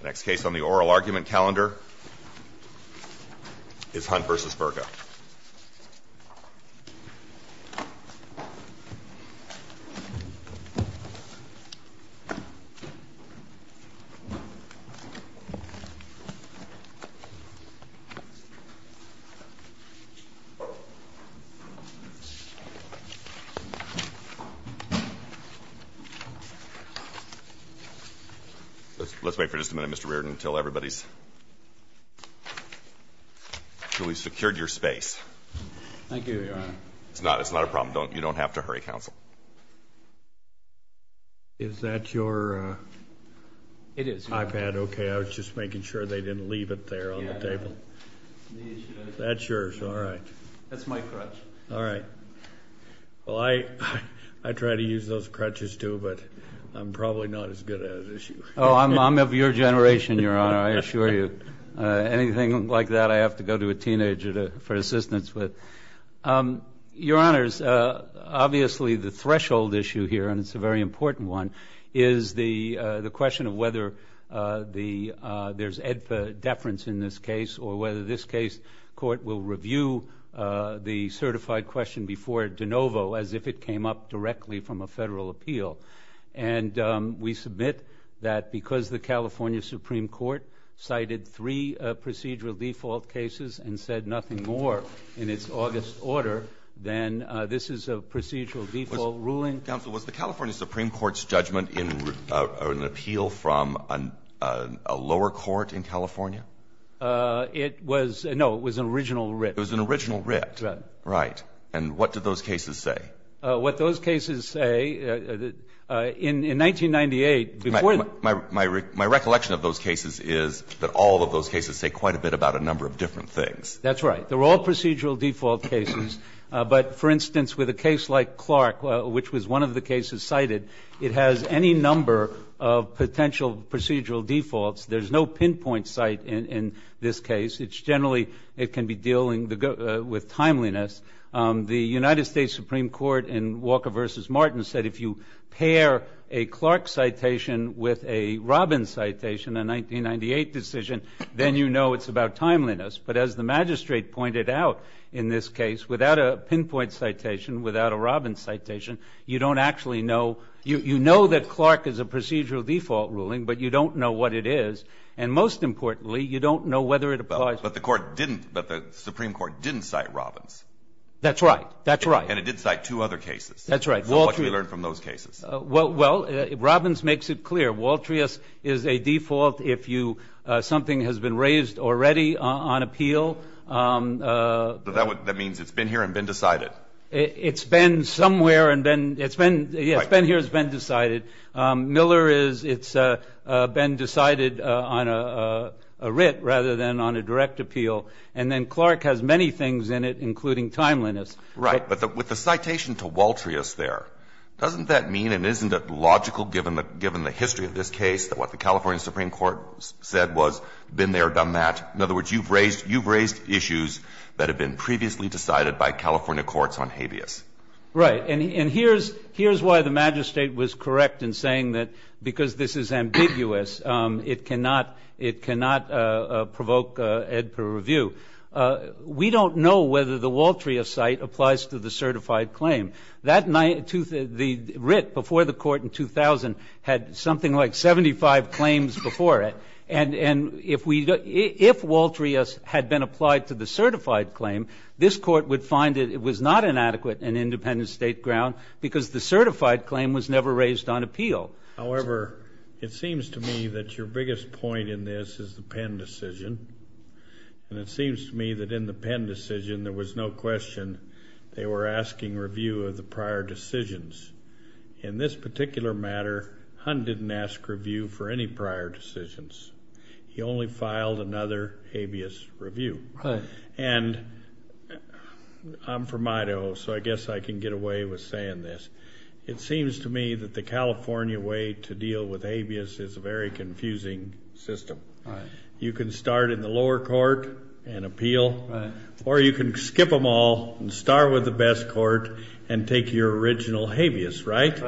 The next case on the oral argument calendar is Hunt v. Burka. Let's wait for just a minute, Mr. Reardon, until everybody's securely secured your space. Thank you, Your Honor. It's not a problem. You don't have to hurry, counsel. Is that your iPad OK? I was just making sure they didn't leave it there on the table. That's yours, all right. That's my crutch. All right. Well, I try to use those crutches, too, but I'm probably not as good at it as you. Oh, I'm of your generation, Your Honor, I assure you. Anything like that, I have to go to a teenager for assistance with. Your Honors, obviously, the threshold issue here, and it's a very important one, is the question of whether there's IDFA deference in this case or whether this case, court will review the certified question before de novo as if it came up directly from a federal appeal. And we submit that because the California Supreme Court cited three procedural default cases and said nothing more in its August order, then this is a procedural default ruling. Counsel, was the California Supreme Court's judgment in an appeal from a lower court in California? It was, no, it was an original writ. It was an original writ, right. And what did those cases say? What those cases say, in 1998, before the- My recollection of those cases is that all of those cases say quite a bit about a number of different things. That's right. They're all procedural default cases. But for instance, with a case like Clark, which was one of the cases cited, it has any number of potential procedural defaults. There's no pinpoint site in this case. It's generally, it can be dealing with timeliness. The United States Supreme Court in Walker versus Martin said if you pair a Clark citation with a Robbins citation, a 1998 decision, then you know it's about timeliness. But as the magistrate pointed out in this case, without a pinpoint citation, without a Robbins citation, you don't actually know. You know that Clark is a procedural default ruling, but you don't know what it is. And most importantly, you don't know whether it applies- But the Supreme Court didn't cite Robbins. That's right. That's right. And it did cite two other cases. That's right. So what do we learn from those cases? Well, Robbins makes it clear. Waltrius is a default if something has been raised already on appeal. That means it's been here and been decided. It's been somewhere and then it's been- Yeah, it's been here, it's been decided. Miller is, it's been decided on a writ rather than on a direct appeal. And then Clark has many things in it, including timeliness. Right, but with the citation to Waltrius there, doesn't that mean it isn't logical, given the history of this case, that what the California Supreme Court said was, been there, done that? In other words, you've raised issues that have been previously decided by California courts on habeas. Right, and here's why the magistrate was correct in saying that because this is ambiguous, it cannot provoke ed per review. We don't know whether the Waltrius site applies to the certified claim. That night, the writ before the court in 2000 had something like 75 claims before it. And if Waltrius had been applied to the certified claim, this court would find it was not an adequate and independent state ground, because the certified claim was never raised on appeal. However, it seems to me that your biggest point in this is the Penn decision. And it seems to me that in the Penn decision, there was no question they were asking review of the prior decisions. In this particular matter, Hunt didn't ask review for any prior decisions. He only filed another habeas review. And I'm from Idaho, so I guess I can get away with saying this. It seems to me that the California way to deal with habeas is a very confusing system. You can start in the lower court and appeal, or you can skip them all and start with the best court and take your original habeas, right?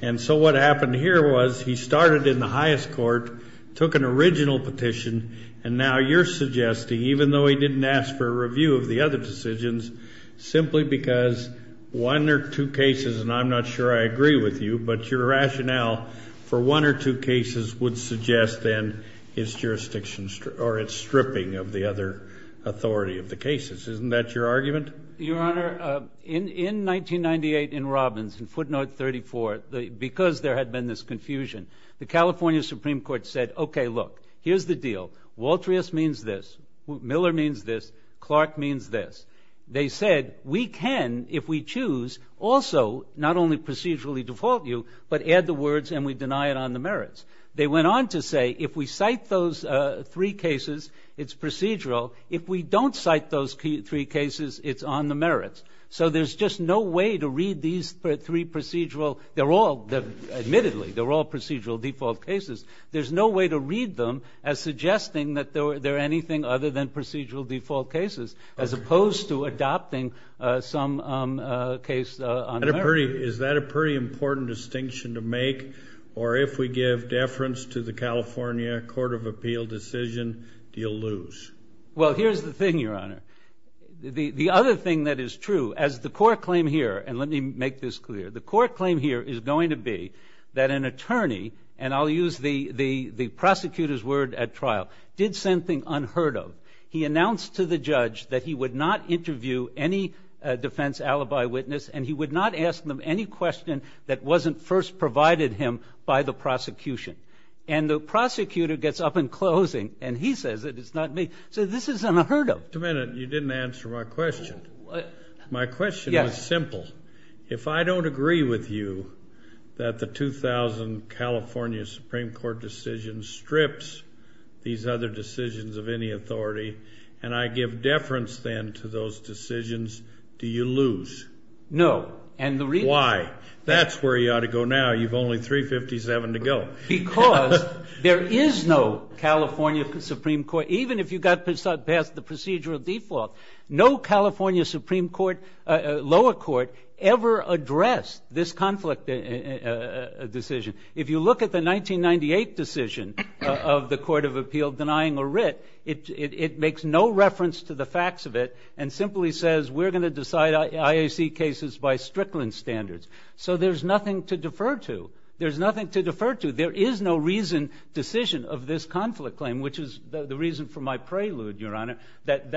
And so what happened here was he started in the highest court, took an original petition, and now you're suggesting, even though he didn't ask for a review of the other decisions, simply because one or two cases, and I'm not sure I agree with you, but your rationale for one or two cases would suggest, then, his jurisdiction or its stripping of the other authority of the cases. Isn't that your argument? Your Honor, in 1998 in Robbins, in footnote 34, because there had been this confusion, the California Supreme Court said, OK, look. Here's the deal. Waltrius means this. Miller means this. Clark means this. They said, we can, if we choose, also not only procedurally default you, but add the words and we deny it on the merits. They went on to say, if we cite those three cases, it's procedural. If we don't cite those three cases, it's on the merits. So there's just no way to read these three procedural. They're all, admittedly, they're all procedural default cases. There's no way to read them as suggesting that they're anything other than procedural default cases, as opposed to adopting some case on the merits. Is that a pretty important distinction to make? Or if we give deference to the California Court of Appeal decision, do you lose? Well, here's the thing, Your Honor. The other thing that is true, as the court claim here, and let me make this clear. The court claim here is going to be that an attorney, and I'll use the prosecutor's word at trial, did something unheard of. He announced to the judge that he would not interview any defense alibi witness, and he would not ask them any question that wasn't first provided him by the prosecution. And the prosecutor gets up in closing, and he says that it's not me. So this is unheard of. Wait a minute. You didn't answer my question. My question is simple. If I don't agree with you that the 2000 California Supreme Court decision strips these other decisions of any authority, and I give deference, then, to those decisions, do you lose? No. And the reason? Why? That's where you ought to go now. You've only 357 to go. Because there is no California Supreme Court, even if you got past the procedural default, no California Supreme Court, lower court, ever addressed this conflict decision. If you look at the 1998 decision of the Court of Appeal denying a writ, it makes no reference to the facts of it and simply says, we're going to decide IAC cases by Strickland standards. So there's nothing to defer to. There's nothing to defer to. There is no reason, decision of this conflict claim, which is the reason for my prelude, Your Honor, that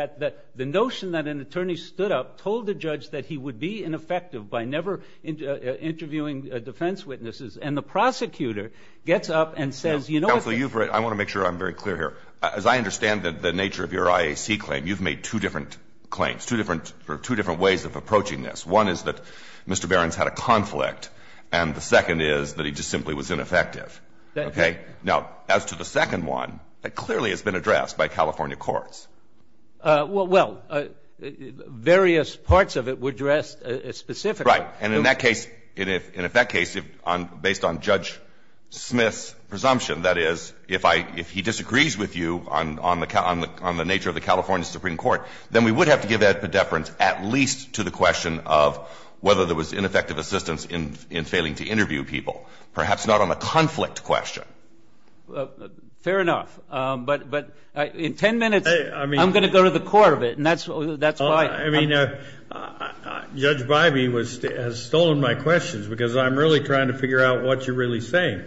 the notion that an attorney stood up, told the judge that he would be ineffective by never interviewing defense witnesses. And the prosecutor gets up and says, you know what the? Counsel, you've written. I want to make sure I'm very clear here. As I understand the nature of your IAC claim, you've made two different claims, two different ways of approaching this. One is that Mr. Barron's had a conflict. And the second is that he just simply was ineffective. Okay? Now, as to the second one, that clearly has been addressed by California courts. Well, various parts of it were addressed specifically. Right. And in that case, based on Judge Smith's presumption, that is, if he disagrees with you on the nature of the California Supreme Court, then we would have to give that predeference at least to the question of whether there was ineffective assistance in failing to interview people, perhaps not on the conflict question. Fair enough. But in 10 minutes, I'm going to go to the core of it. And that's why. I mean, Judge Bybee has stolen my questions, because I'm really trying to figure out what you're really saying.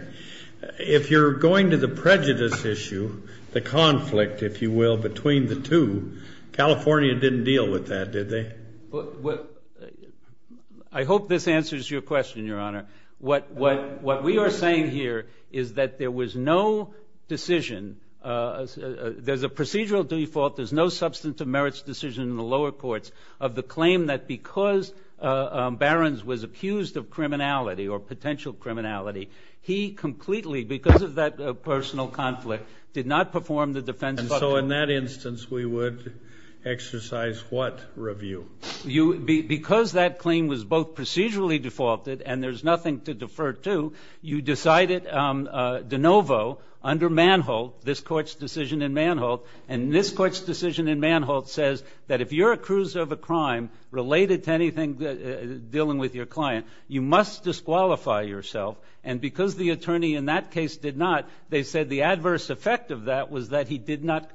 If you're going to the prejudice issue, the conflict, if you will, between the two, California didn't deal with that, did they? I hope this answers your question, Your Honor. What we are saying here is that there was no decision. There's a procedural default. There's no substantive merits decision in the lower courts of the claim that because Barron's was accused of criminality or potential criminality, he completely, because of that personal conflict, did not perform the defense. And so in that instance, we would exercise what review? Because that claim was both procedurally defaulted, and there's nothing to defer to, you decided de novo under Manholt, this court's decision in Manholt. And this court's decision in Manholt says that if you're accused of a crime related to anything dealing with your client, you must disqualify yourself And because the attorney in that case did not, they said the adverse effect of that was that he did not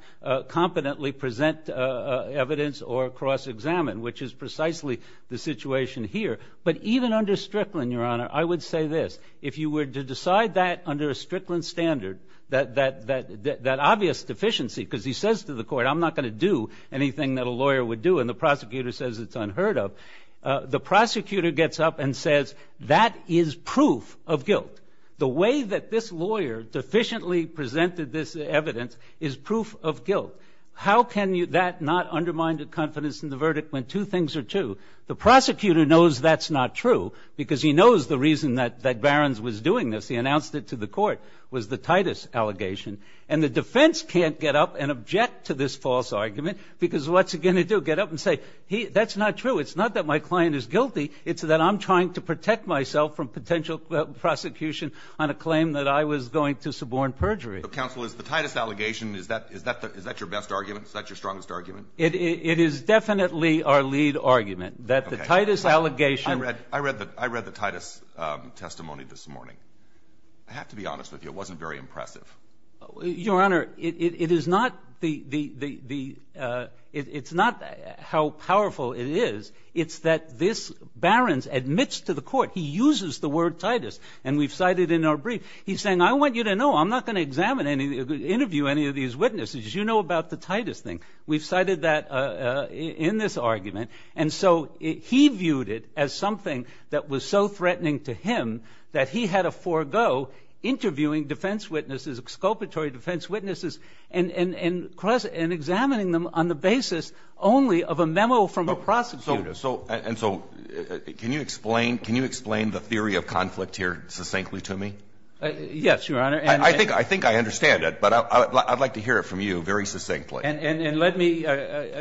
competently present evidence or cross-examine, which is precisely the situation here. But even under Strickland, Your Honor, I would say this. If you were to decide that under a Strickland standard, that obvious deficiency, because he says to the court, I'm not going to do anything that a lawyer would do, and the prosecutor says it's unheard of, the prosecutor gets up and says, that is proof of guilt. The way that this lawyer deficiently presented this evidence is proof of guilt. How can that not undermine the confidence in the verdict when two things are true? The prosecutor knows that's not true, because he knows the reason that Barron's was doing this. He announced it to the court, was the Titus allegation. And the defense can't get up and object to this false argument, because what's it going to do? Get up and say, that's not true. It's not that my client is guilty. It's that I'm trying to protect myself from potential prosecution on a claim that I was going to suborn perjury. Counsel, is the Titus allegation, is that your best argument? Is that your strongest argument? It is definitely our lead argument, that the Titus allegation. I read the Titus testimony this morning. I have to be honest with you. It wasn't very impressive. Your Honor, it is not how powerful it is. It's that this Barron's admits to the court, he uses the word Titus. And we've cited in our brief, he's saying, I want you to know I'm not going to interview any of these witnesses. You know about the Titus thing. We've cited that in this argument. And so he viewed it as something that was so threatening to him that he had to forego interviewing defense witnesses, exculpatory defense witnesses, and examining them on the basis only of a memo from a prosecutor. And so can you explain the theory of conflict here succinctly to me? Yes, Your Honor. And I think I understand it. But I'd like to hear it from you very succinctly. And let me, I'm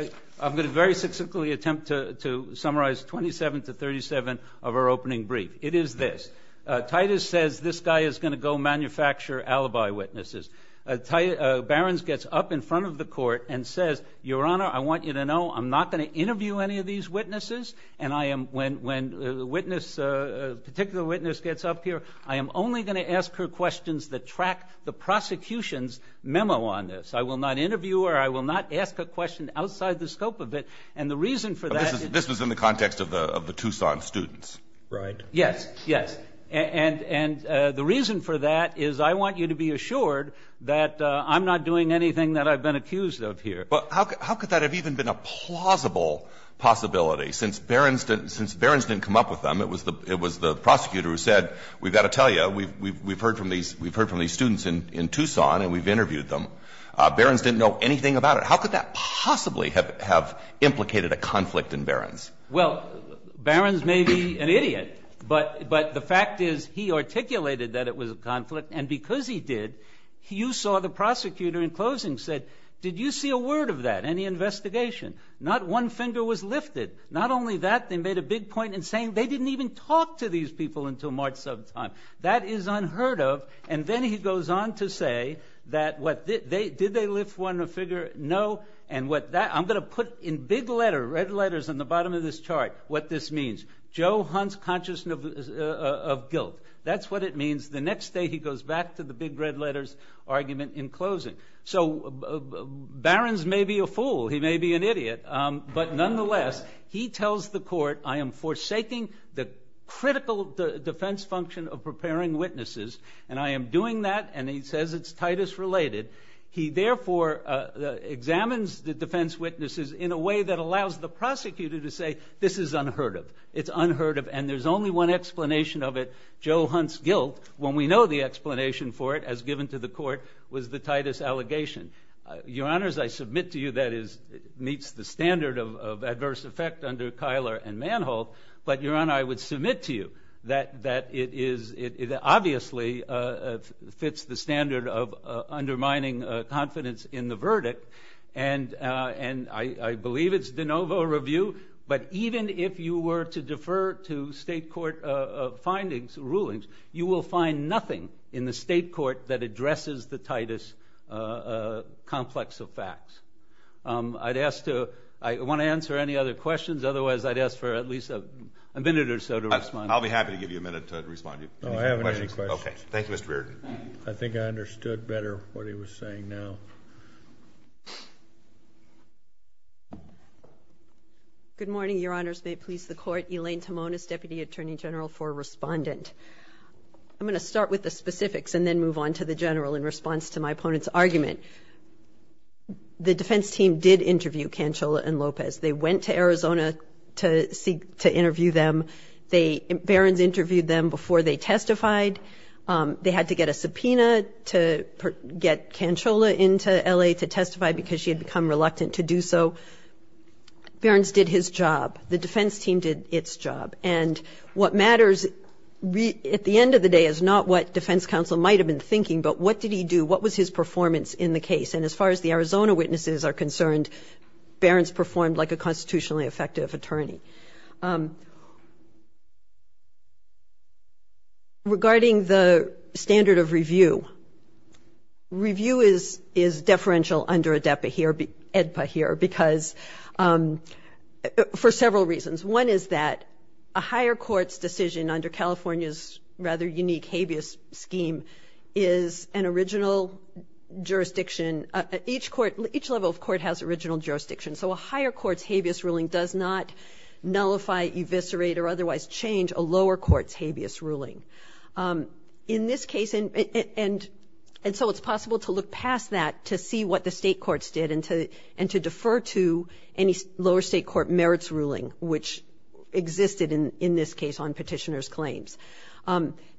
going to very succinctly attempt to summarize 27 to 37 of our opening brief. It is this. Titus says this guy is going to go manufacture alibi witnesses. Barron's gets up in front of the court and says, Your Honor, I want you to know I'm not going to interview any of these witnesses. And when a particular witness gets up here, I am only going to ask her questions that track the prosecution's memo on this. I will not interview her. I will not ask a question outside the scope of it. And the reason for that is. This was in the context of the Tucson students, right? Yes, yes. And the reason for that is I want you to be assured that I'm not doing anything that I've been accused of here. But how could that have even been a plausible possibility? Since Barron's didn't come up with them, it was the prosecutor who said, we've got to tell you, we've heard from these students in Tucson and we've interviewed them. Barron's didn't know anything about it. How could that possibly have implicated a conflict in Barron's? Well, Barron's may be an idiot, but the fact is he articulated that it was a conflict. And because he did, you saw the prosecutor in closing said, did you see a word of that? Any investigation? Not one finger was lifted. Not only that, they made a big point in saying they didn't even talk to these people until March sometime. That is unheard of. And then he goes on to say that, did they lift one figure? No. And what that, I'm going to put in big letter, red letters on the bottom of this chart, what this means. Joe Hunt's conscious of guilt. That's what it means the next day he goes back to the big red letters argument in closing. So Barron's may be a fool. He may be an idiot. But nonetheless, he tells the court, I am forsaking the critical defense function of preparing witnesses. And I am doing that. And he says it's Titus related. He therefore examines the defense witnesses in a way that allows the prosecutor to say, this is unheard of. It's unheard of. And there's only one explanation of it, Joe Hunt's guilt. When we know the explanation for it, as given to the court, was the Titus allegation. Your honors, I submit to you that it meets the standard of adverse effect under Keiler and Manholt. But your honor, I would submit to you that it obviously fits the standard of undermining confidence in the verdict. And I believe it's de novo review. But even if you were to defer to state court findings, rulings, you will find nothing in the state court that addresses the Titus complex of facts. I want to answer any other questions. Otherwise, I'd ask for at least a minute or so to respond. I'll be happy to give you a minute to respond. I haven't any questions. Thank you, Mr. Reardon. I think I understood better what he was saying now. Good morning, your honors. May it please the court. Elaine Timonis, Deputy Attorney General for Respondent. I'm going to start with the specifics and then move on to the general in response to my opponent's argument. The defense team did interview Canchola and Lopez. They went to Arizona to interview them. Barron's interviewed them before they testified. They had to get a subpoena to get Canchola into LA to testify because she had become reluctant to do so. Barron's did his job. The defense team did its job. And what matters at the end of the day is not what defense counsel might have been thinking, but what did he do? What was his performance in the case? And as far as the Arizona witnesses are concerned, Barron's performed like a constitutionally effective attorney. Regarding the standard of review, review is deferential under ADEPA here because for several reasons. One is that a higher court's decision under California's rather unique habeas scheme is an original jurisdiction. Each level of court has original jurisdiction. So a higher court's habeas ruling does not nullify, eviscerate, or otherwise change a lower court's habeas ruling. In this case, and so it's possible to look past that to see what the state courts did and to defer to any lower state court merits ruling, which existed in this case on petitioner's claims.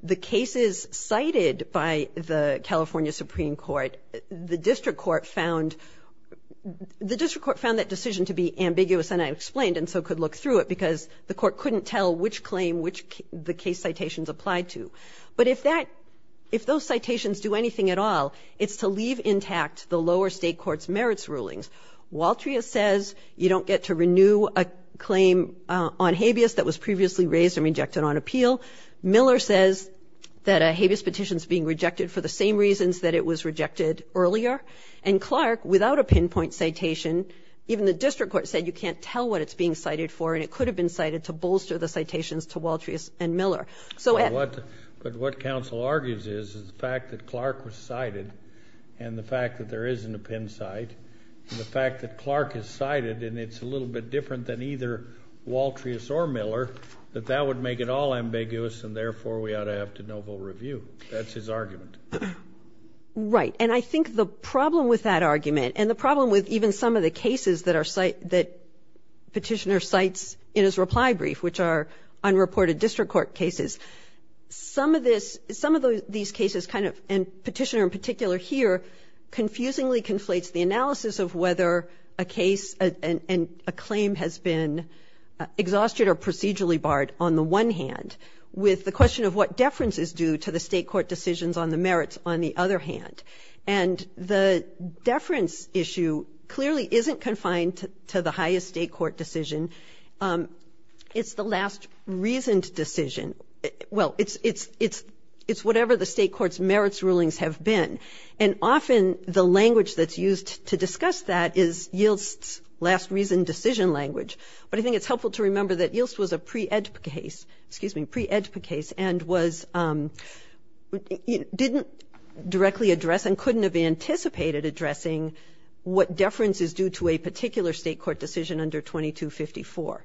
The cases cited by the California Supreme Court, the district court found that decision to be ambiguous. And I explained and so could look through it because the court couldn't tell which claim the case citations applied to. But if those citations do anything at all, it's to leave intact the lower state court's merits rulings. Waltria says you don't get to renew a claim on habeas that was previously raised and rejected on appeal. Miller says that a habeas petition is being rejected for the same reasons that it was rejected earlier. And Clark, without a pinpoint citation, even the district court said you can't tell what it's being cited for. And it could have been cited to bolster the citations to Waltria and Miller. So what council argues is the fact that Clark was cited and the fact that there isn't a pin site, the fact that Clark is cited and it's a little bit different than either Waltria or Miller, that that would make it all ambiguous and therefore we ought to have to novel review. That's his argument. Right. And I think the problem with that argument and the problem with even some of the cases that Petitioner cites in his reply brief, which are unreported district court cases, some of these cases kind of, and Petitioner in particular here, confusingly conflates the analysis of whether a case and a claim has been exhausted or procedurally barred on the one hand with the question of what deference is due to the state court decisions on the merits on the other hand. And the deference issue clearly isn't confined to the highest state court decision. It's the last reasoned decision. Well, it's whatever the state court's merits rulings have been. And often the language that's used to discuss that is Yilts's last reasoned decision language. But I think it's helpful to remember that Yilts was a pre-EDPA case, excuse me, pre-EDPA case and didn't directly address and couldn't have anticipated addressing what deference is due to a particular state court decision under 2254,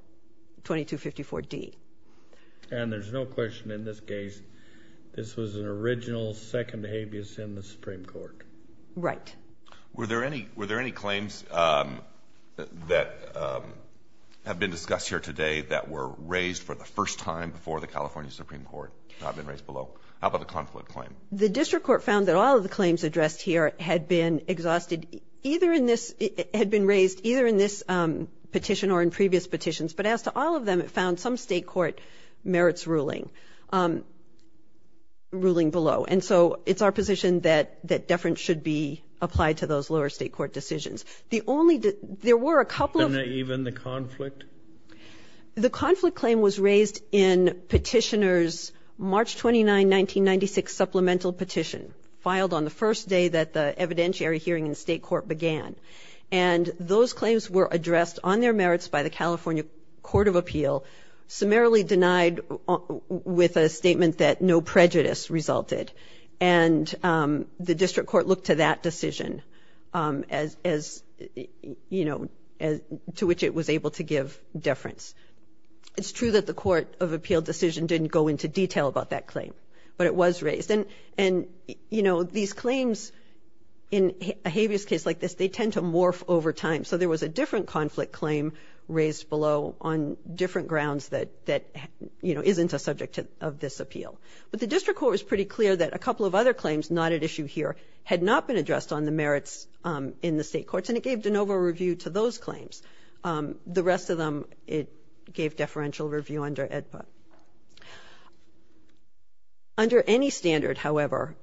2254D. And there's no question in this case this was an original second habeas in the Supreme Court. Right. Were there any claims that have been discussed here today that were raised for the first time before the California Supreme Court have been raised below? How about the conflict claim? The district court found that all of the claims addressed here had been raised either in this petition or in previous petitions. But as to all of them, it found some state court merits ruling below. And so it's our position that deference should be applied to those lower state court decisions. The only that there were a couple of. And even the conflict? The conflict claim was raised in petitioners March 29, 1996 supplemental petition filed on the first day that the evidentiary hearing in state court began. And those claims were addressed on their merits by the California Court of Appeal, summarily denied with a statement that no prejudice resulted. And the district court looked to that decision to which it was able to give deference. It's true that the court of appeal decision didn't go into detail about that claim, but it was raised. And these claims in a habeas case like this, they tend to morph over time. So there was a different conflict claim raised below on different grounds that isn't a subject of this appeal. But the district court was pretty clear that a couple of other claims not at issue here had not been addressed on the merits in the state courts. And it gave de novo review to those claims. The rest of them, it gave deferential review under AEDPA. Under any standard, however,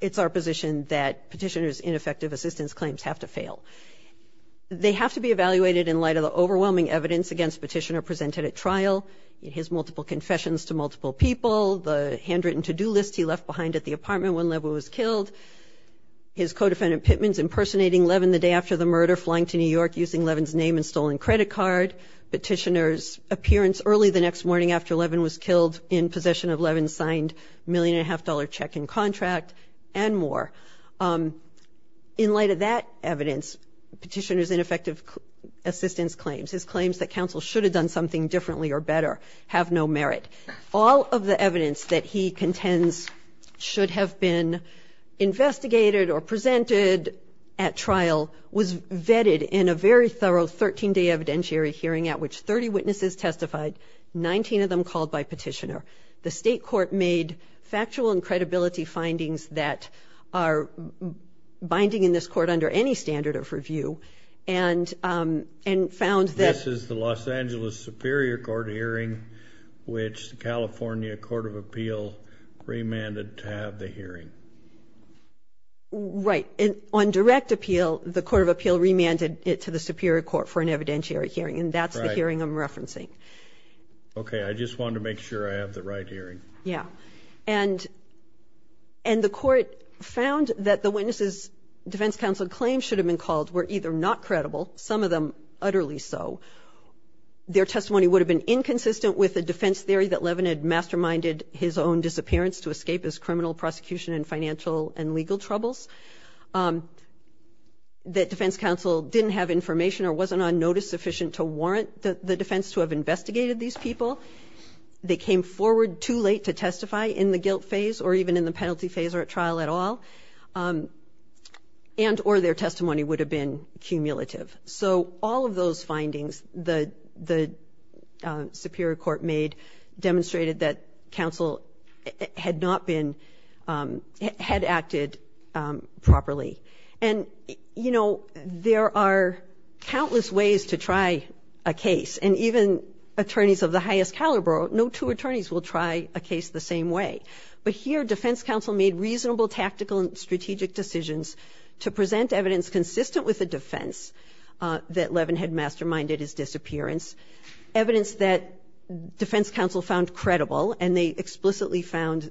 it's our position that petitioners ineffective assistance claims have to fail. They have to be evaluated in light of the overwhelming evidence against petitioner presented at trial, his multiple confessions to multiple people, the handwritten to-do list he left behind at the apartment when Levin was killed, his co-defendant Pittman's impersonating Levin the day after the murder, flying to New York using Levin's name and stolen credit card, petitioner's appearance early the next morning after Levin was killed in possession of Levin's signed $1.5 million check and contract, and more. In light of that evidence, petitioner's ineffective assistance claims, his claims that counsel should have done something differently or better have no merit. All of the evidence that he contends should have been investigated or presented at trial was vetted in a very thorough 13-day evidentiary hearing at which 30 witnesses testified, 19 of them called by petitioner. The state court made factual and credibility findings that are binding in this court under any standard of review and found that- This is the Los Angeles Superior Court hearing, which the California Court of Appeal remanded to have the hearing. Right. On direct appeal, the Court of Appeal remanded it to the Superior Court for an evidentiary hearing. And that's the hearing I'm referencing. OK, I just wanted to make sure I have the right hearing. Yeah. And the court found that the witnesses defense counsel claims should have been called were either not credible, some of them utterly so, their testimony would have been inconsistent with the defense theory that Levin had masterminded his own disappearance to escape his criminal prosecution and financial and legal troubles, that defense counsel didn't have information or wasn't on notice sufficient to warrant the defense to have investigated these people, they came forward too late to testify in the guilt phase or even in the penalty phase or at trial at all, and or their testimony would have been cumulative. So all of those findings the Superior Court made demonstrated that counsel had acted properly. And there are countless ways to try a case and even attorneys of the highest caliber, no two attorneys will try a case the same way. But here defense counsel made reasonable tactical and strategic decisions to present evidence consistent with the defense that Levin had masterminded his disappearance, evidence that defense counsel found credible and they explicitly found,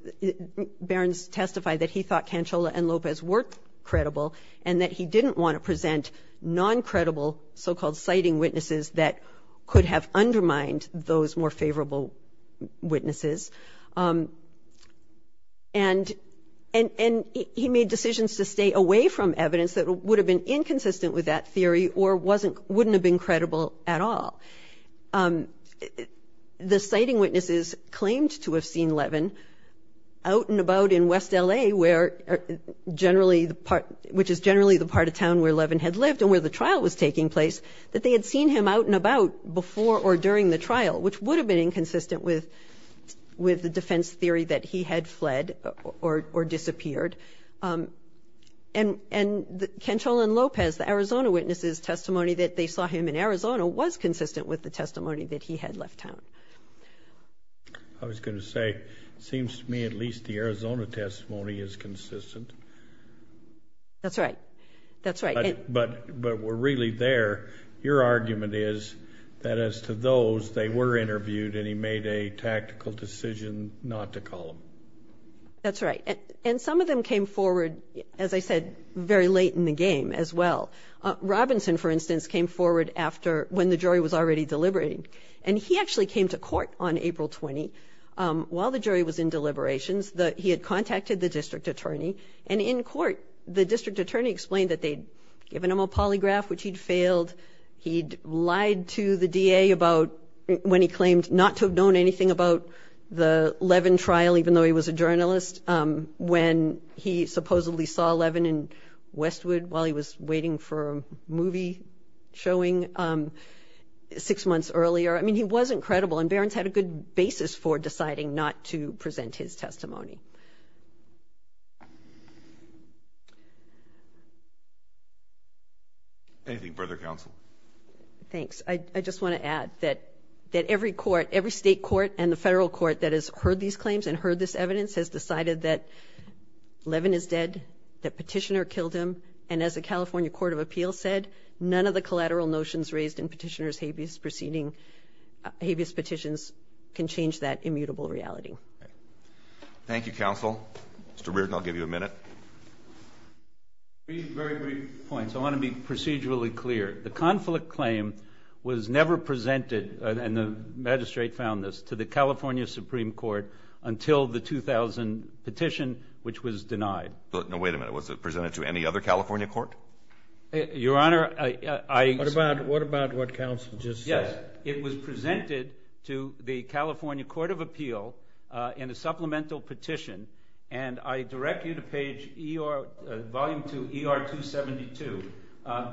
Barron's testified that he thought Cancella and Lopez were credible and that he didn't want to present non-credible so-called citing witnesses that could have undermined those more favorable witnesses. And he made decisions to stay away from evidence that would have been inconsistent with that theory or wouldn't have been credible at all. The citing witnesses claimed to have seen Levin out and about in West LA, which is generally the part of town where Levin had lived and where the trial was taking place, that they had seen him out and about before or during the trial, which would have been inconsistent with the evidence with the defense theory that he had fled or disappeared. And Cancella and Lopez, the Arizona witnesses testimony that they saw him in Arizona was consistent with the testimony that he had left town. I was gonna say, it seems to me at least the Arizona testimony is consistent. That's right, that's right. But we're really there. Your argument is that as to those, they were interviewed and he made a tactical decision not to call them. That's right. And some of them came forward, as I said, very late in the game as well. Robinson, for instance, came forward after when the jury was already deliberating. And he actually came to court on April 20 while the jury was in deliberations, he had contacted the district attorney. And in court, the district attorney explained that they'd given him a polygraph, which he'd failed. He'd lied to the DA about when he claimed not to have known anything about the Levin trial, even though he was a journalist, when he supposedly saw Levin in Westwood while he was waiting for a movie showing six months earlier. I mean, he wasn't credible and Barron's had a good basis for deciding not to present his testimony. Anything further, counsel? Thanks. I just want to add that every court, every state court and the federal court that has heard these claims and heard this evidence has decided that Levin is dead, that Petitioner killed him. And as the California Court of Appeals said, none of the collateral notions raised can change that immutable reality. Thank you, counsel. Thank you. Thank you. Thank you, counsel. Mr. Reardon, I'll give you a minute. Three very brief points. I want to be procedurally clear. The conflict claim was never presented, and the magistrate found this, to the California Supreme Court until the 2000 petition, which was denied. Now, wait a minute. Was it presented to any other California court? Your Honor, I- What about what counsel just said? Yes, it was presented to the California Court of Appeal in a supplemental petition, and I direct you to page ER, volume two, ER 272.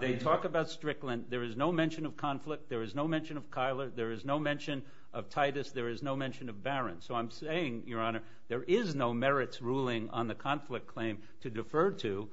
They talk about Strickland. There is no mention of conflict. There is no mention of Kyler. There is no mention of Titus. There is no mention of Barron. So I'm saying, Your Honor, there is no merits ruling on the conflict claim to defer to,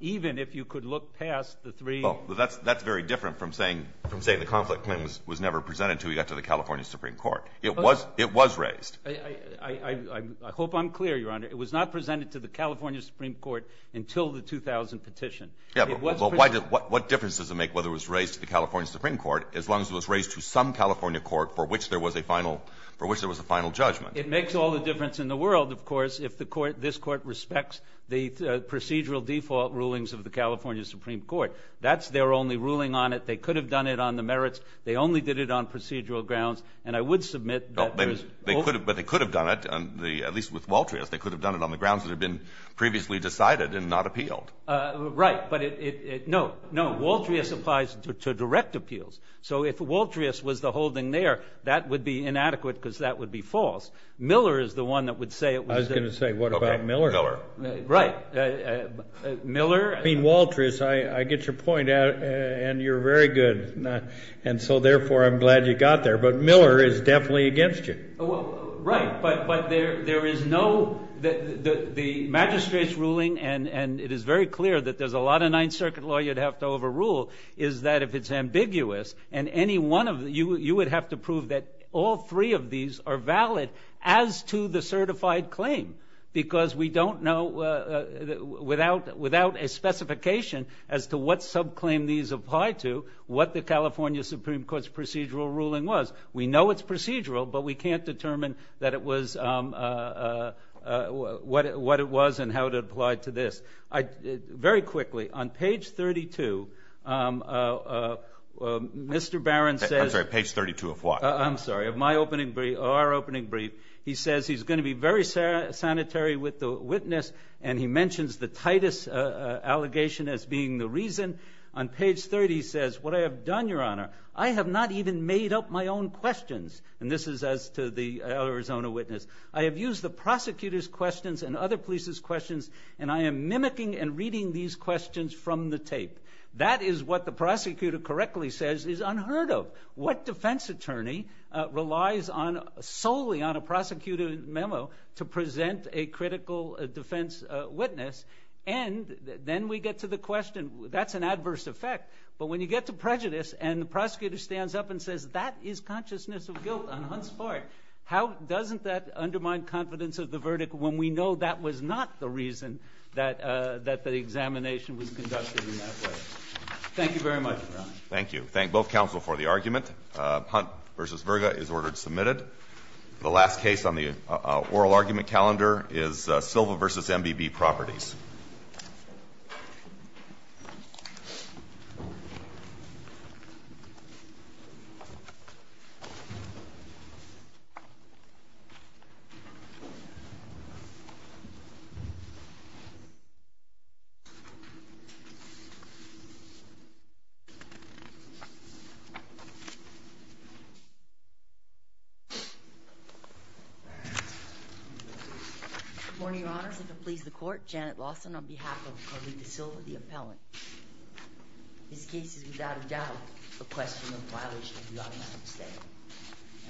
even if you could look past the three- Well, that's very different from saying the conflict claim was never presented until we got to the California Supreme Court. It was raised. I hope I'm clear, Your Honor. It was not presented to the California Supreme Court until the 2000 petition. Yeah, but what difference does it make whether it was raised to the California Supreme Court, as long as it was raised to some California court for which there was a final judgment? It makes all the difference in the world, of course, if this court respects the procedural default rulings of the California Supreme Court. That's their only ruling on it. They could have done it on the merits. They only did it on procedural grounds, and I would submit that there's- But they could have done it, at least with Waltrius, they could have done it on the grounds that had been previously decided and not appealed. Right, but it, no, Waltrius applies to direct appeals. So if Waltrius was the holding there, that would be inadequate, because that would be false. Miller is the one that would say it was- I was going to say, what about Miller? Right, Miller- I mean, Waltrius, I get your point, and you're very good, and so therefore, I'm glad you got there, but Miller is definitely against you. Right, but there is no, the magistrate's ruling, and it is very clear that there's a lot of Ninth Circuit law you'd have to overrule, is that if it's ambiguous, and any one of, you would have to prove that all three of these are valid as to the certified claim, because we don't know, without a specification as to what subclaim these apply to, what the California Supreme Court's procedural ruling was. We know it's procedural, but we can't determine that it was, what it was, and how it applied to this. Very quickly, on page 32, Mr. Barron says- I'm sorry, page 32 of what? I'm sorry, of my opening brief, or our opening brief. He says he's going to be very sanitary with the witness, and he mentions the Titus allegation as being the reason. On page 30, he says, what I have done, Your Honor, I have not even made up my own questions, and this is as to the Arizona witness. I have used the prosecutor's questions and other police's questions, and I am mimicking and reading these questions from the tape. That is what the prosecutor correctly says is unheard of. What defense attorney relies solely on a prosecutor's memo to present a critical defense witness, and then we get to the question, that's an adverse effect, but when you get to prejudice, and the prosecutor stands up and says, that is consciousness of guilt on Hunt's part, how doesn't that undermine confidence of the verdict when we know that was not the reason that the examination was conducted in that way? Thank you very much, Your Honor. Thank you. Thank both counsel for the argument. Hunt v. Virga is ordered submitted. The last case on the oral argument calendar is Silva v. MBB Properties. Good morning, Your Honors, if it please the court, Janet Lawson on behalf of the Silva, the appellant. This case is without a doubt a question of violation of the automatic stay.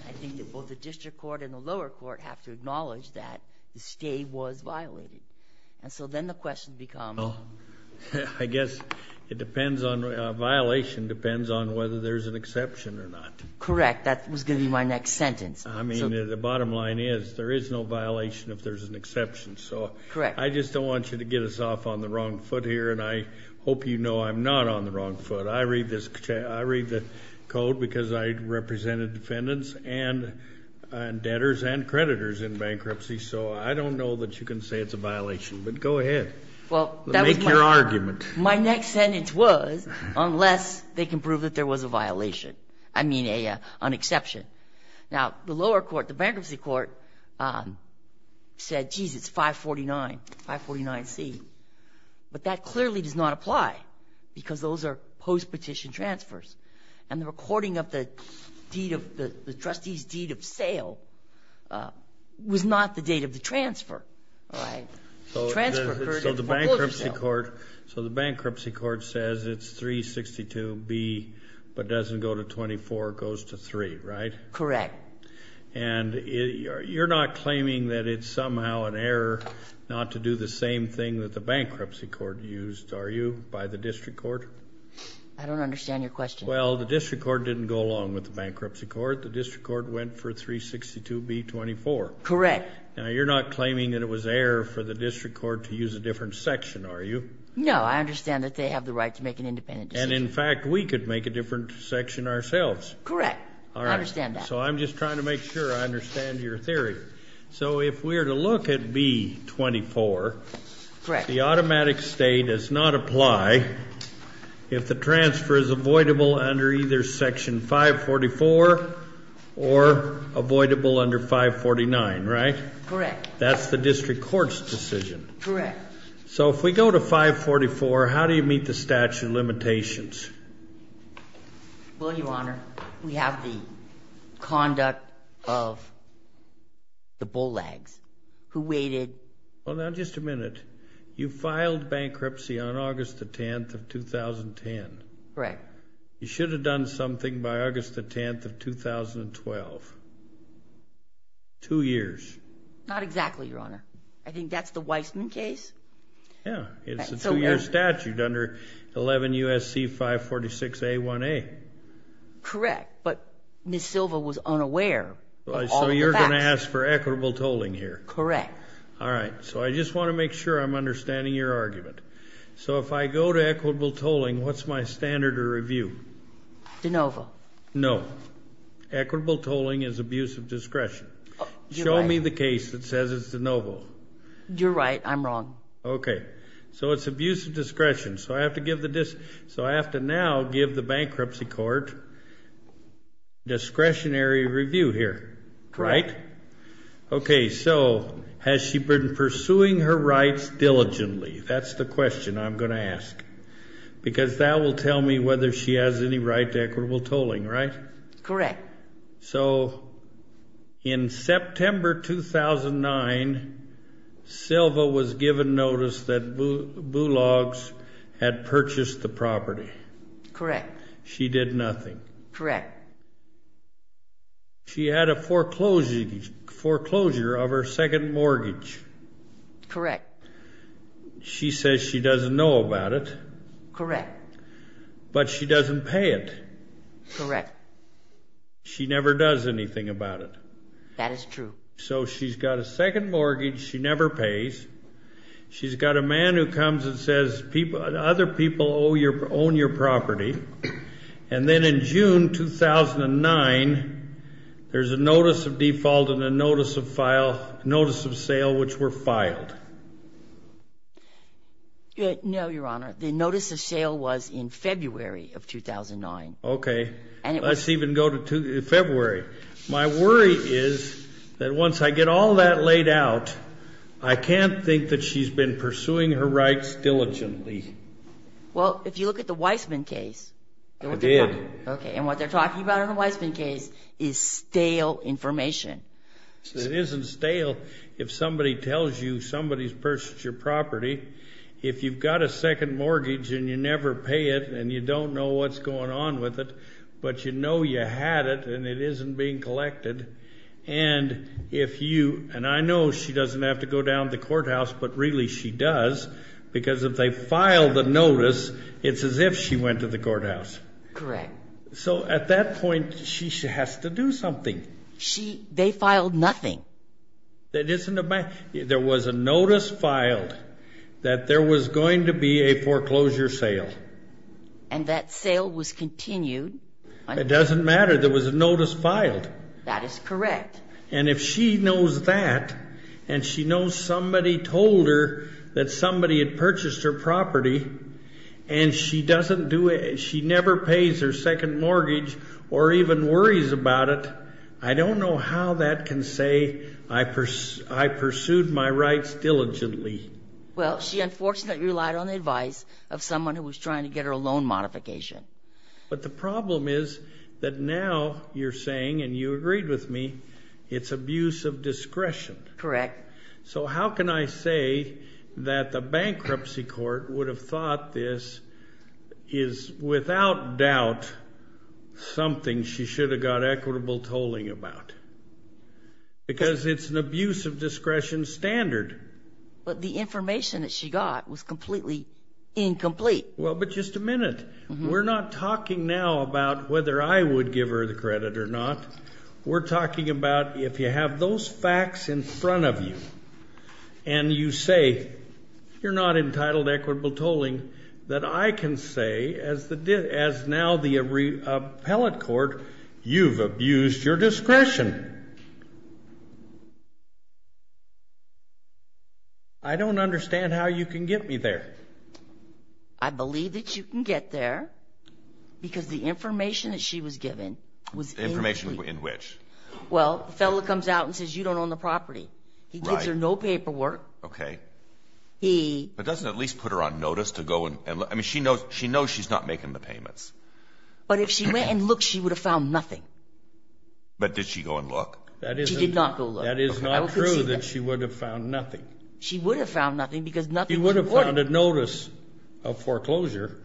I think that both the district court and the lower court have to acknowledge that the stay was violated, and so then the question becomes. I guess it depends on, a violation depends on whether there's an exception or not. Correct, that was gonna be my next sentence. I mean, the bottom line is, there is no violation if there's an exception, so. Correct. I just don't want you to get us off on the wrong foot here, and I hope you know I'm not on the wrong foot. I read the code because I represented defendants and debtors and creditors in bankruptcy, so I don't know that you can say it's a violation, but go ahead. Well, that was my. Make your argument. My next sentence was, unless they can prove that there was a violation, I mean, an exception. Now, the lower court, the bankruptcy court, said, geez, it's 549, 549C. But that clearly does not apply, because those are post-petition transfers. And the recording of the trustee's deed of sale was not the date of the transfer, all right? The transfer occurred at Folgerdale. So the bankruptcy court says it's 362B, but doesn't go to 24, it goes to three, right? Correct. And you're not claiming that it's somehow an error not to do the same thing that the bankruptcy court used, are you, by the district court? I don't understand your question. Well, the district court didn't go along with the bankruptcy court. The district court went for 362B24. Correct. Now, you're not claiming that it was error for the district court to use a different section, are you? No, I understand that they have the right to make an independent decision. And in fact, we could make a different section ourselves. Correct, I understand that. So I'm just trying to make sure I understand your theory. So if we're to look at B24, the automatic stay does not apply if the transfer is avoidable under either section 544 or avoidable under 549, right? Correct. That's the district court's decision. Correct. So if we go to 544, how do you meet the statute of limitations? Well, Your Honor, we have the conduct of the Bulleggs who waited. Well, now, just a minute. You filed bankruptcy on August the 10th of 2010. Correct. You should have done something by August the 10th of 2012. Two years. Not exactly, Your Honor. I think that's the Weissman case. Yeah, it's a two-year statute under 11 U.S.C. 546A1A. Correct, but Ms. Silva was unaware of all of the facts. So you're going to ask for equitable tolling here? Correct. All right, so I just want to make sure I'm understanding your argument. So if I go to equitable tolling, what's my standard of review? De novo. No. Equitable tolling is abuse of discretion. Show me the case that says it's de novo. You're right, I'm wrong. Okay, so it's abuse of discretion. So I have to now give the bankruptcy court discretionary review here, right? Okay, so has she been pursuing her rights diligently? That's the question I'm going to ask. Because that will tell me whether she has any right to equitable tolling, right? Correct. So in September 2009, Silva was given notice that Bullogs had purchased the property. Correct. She did nothing. Correct. She had a foreclosure of her second mortgage. Correct. She says she doesn't know about it. Correct. But she doesn't pay it. Correct. She never does anything about it. That is true. So she's got a second mortgage she never pays. She's got a man who comes and says, other people own your property. And then in June 2009, there's a notice of default and a notice of sale which were filed. No, Your Honor. The notice of sale was in February of 2009. Okay, let's even go to February. My worry is that once I get all that laid out, I can't think that she's been pursuing her rights diligently. Well, if you look at the Weisman case. I did. Okay, and what they're talking about in the Weisman case is stale information. It isn't stale if somebody tells you somebody's purchased your property. If you've got a second mortgage and you never pay it and you don't know what's going on with it, but you know you had it and it isn't being collected. And if you, and I know she doesn't have to go down to the courthouse, but really she does because if they file the notice, it's as if she went to the courthouse. Correct. So at that point, she has to do something. They filed nothing. That isn't a, there was a notice filed that there was going to be a foreclosure sale. And that sale was continued. It doesn't matter, there was a notice filed. That is correct. And if she knows that and she knows somebody told her that somebody had purchased her property and she doesn't do it, she never pays her second mortgage or even worries about it, I don't know how that can say I pursued my rights diligently. Well, she unfortunately relied on the advice of someone who was trying to get her a loan modification. But the problem is that now you're saying, and you agreed with me, it's abuse of discretion. Correct. So how can I say that the bankruptcy court would have thought this is without doubt something she should have got equitable tolling about? Because it's an abuse of discretion standard. But the information that she got was completely incomplete. Well, but just a minute. We're not talking now about whether I would give her the credit or not. We're talking about if you have those facts in front of you and you say, you're not entitled to equitable tolling, that I can say as now the appellate court, you've abused your discretion. I don't understand how you can get me there. I believe that you can get there because the information that she was given was incomplete. Information in which? Well, the fellow comes out and says, you don't own the property. He gives her no paperwork. Okay. But doesn't it at least put her on notice to go and look? I mean, she knows she's not making the payments. But if she went and looked, she would have found nothing. But did she go and look? She did not go look. That is not true that she would have found nothing. She would have found nothing because nothing was reported. She would have found a notice of foreclosure.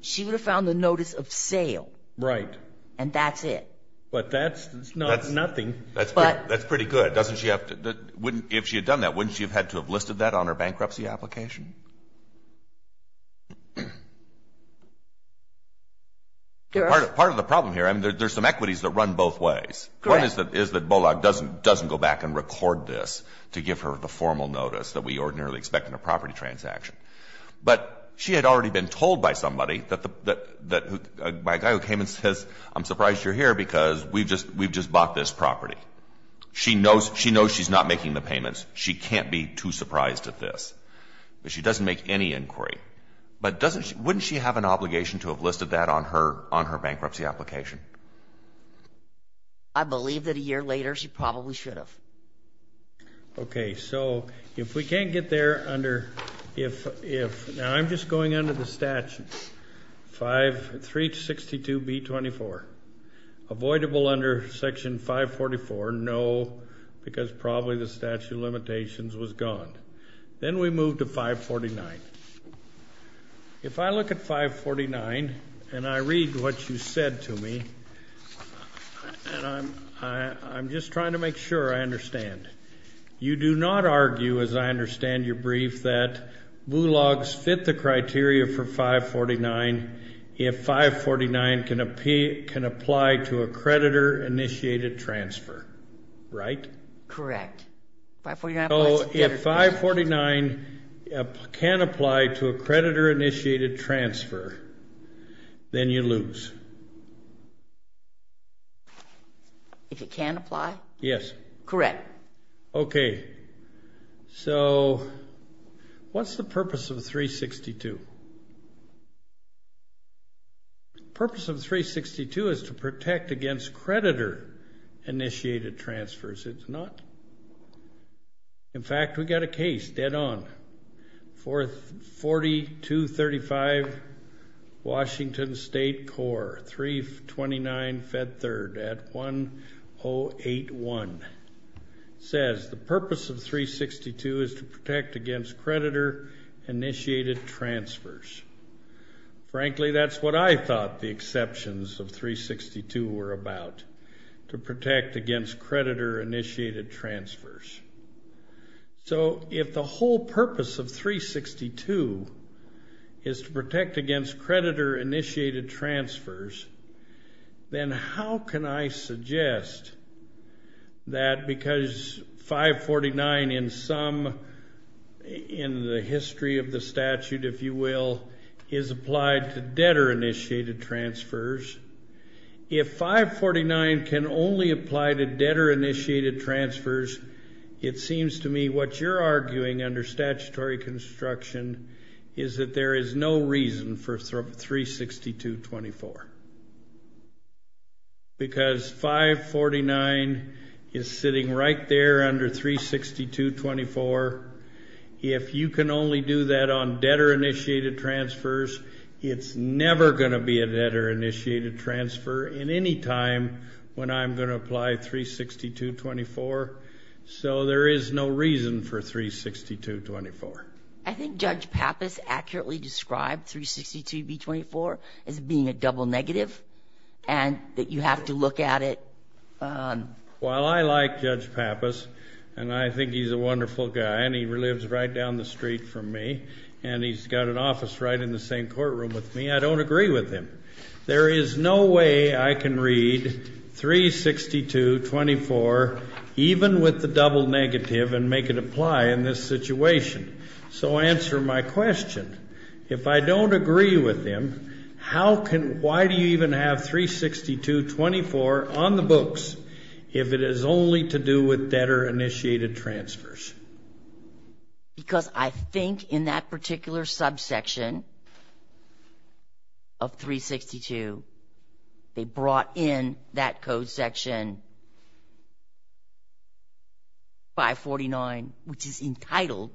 She would have found the notice of sale. Right. And that's it. But that's nothing. That's pretty good. Doesn't she have to, if she had done that, wouldn't she have had to have listed that on her bankruptcy application? Part of the problem here, I mean, there's some equities that run both ways. Correct. One is that Bollock doesn't go back and record this to give her the formal notice that we ordinarily expect in a property transaction. But she had already been told by somebody, by a guy who came and says, I'm surprised you're here because we've just bought this property. She knows she's not making the payments. She can't be too surprised at this. But she doesn't make any inquiry. But wouldn't she have an obligation to have listed that on her bankruptcy application? I believe that a year later, she probably should have. Okay, so if we can't get there under, if, now I'm just going under the statute, 562B24, avoidable under section 544, no, because probably the statute of limitations was gone. Then we move to 549. If I look at 549, and I read what you said to me, and I'm just trying to make sure I understand. You do not argue, as I understand your brief, that BULOGs fit the criteria for 549 if 549 can apply to a creditor-initiated transfer, right? Correct. So if 549 can apply to a creditor-initiated transfer, then you lose. If it can apply? Yes. Correct. Okay. So what's the purpose of 362? Purpose of 362 is to protect against creditor-initiated transfers. It's not. In fact, we got a case, dead on, for 4235 Washington State Core, 329 Fed Third at 1081, says the purpose of 362 is to protect against creditor-initiated transfers. Frankly, that's what I thought the exceptions of 362 were about, to protect against creditor-initiated transfers. So if the whole purpose of 362 is to protect against creditor-initiated transfers, then how can I suggest that because 549 in the history of the statute, if you will, is applied to debtor-initiated transfers, if 549 can only apply to debtor-initiated transfers, it seems to me what you're arguing under statutory construction is that there is no reason for 362-24. Because 549 is sitting right there under 362-24. If you can only do that on debtor-initiated transfers, it's never gonna be a debtor-initiated transfer in any time when I'm gonna apply 362-24. So there is no reason for 362-24. I think Judge Pappas accurately described 362-24 as being a double negative, and that you have to look at it. While I like Judge Pappas, and I think he's a wonderful guy, and he lives right down the street from me, and he's got an office right in the same courtroom with me, I don't agree with him. There is no way I can read 362-24 even with the double negative and make it apply in this situation. So answer my question. If I don't agree with him, how can, why do you even have 362-24 on the books if it is only to do with debtor-initiated transfers? Because I think in that particular subsection of 362, they brought in that code section 549, which is entitled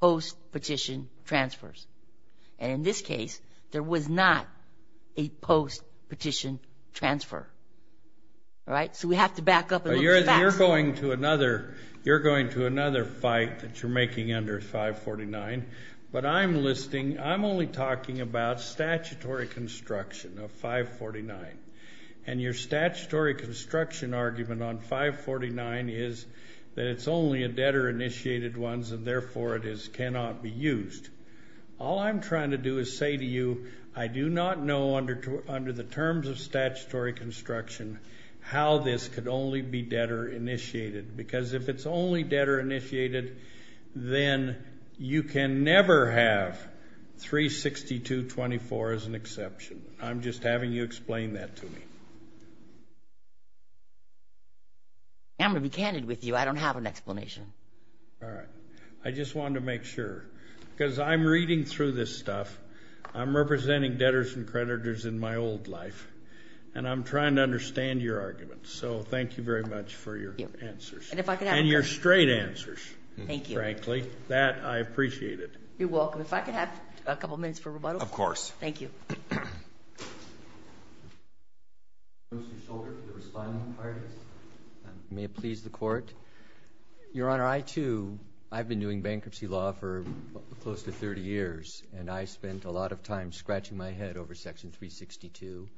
post-petition transfers. And in this case, there was not a post-petition transfer. All right, so we have to back up and look at the facts. You're going to another fight that you're making under 549, but I'm listing, I'm only talking about statutory construction of 549. And your statutory construction argument on 549 is that it's only a debtor-initiated ones and therefore it is cannot be used. All I'm trying to do is say to you, I do not know under the terms of statutory construction how this could only be debtor-initiated because if it's only debtor-initiated, then you can never have 362-24 as an exception. I'm just having you explain that to me. I'm going to be candid with you. I don't have an explanation. All right, I just wanted to make sure because I'm reading through this stuff. I'm representing debtors and creditors in my old life. And I'm trying to understand your arguments. So thank you very much for your answers. And your straight answers, frankly. That I appreciate it. You're welcome. If I could have a couple of minutes for rebuttal. Of course. Thank you. I'm going to put my arms and shoulders to the responding parties. May it please the court. Your Honor, I too, I've been doing bankruptcy law for close to 30 years. And I spent a lot of time scratching my head over section 362.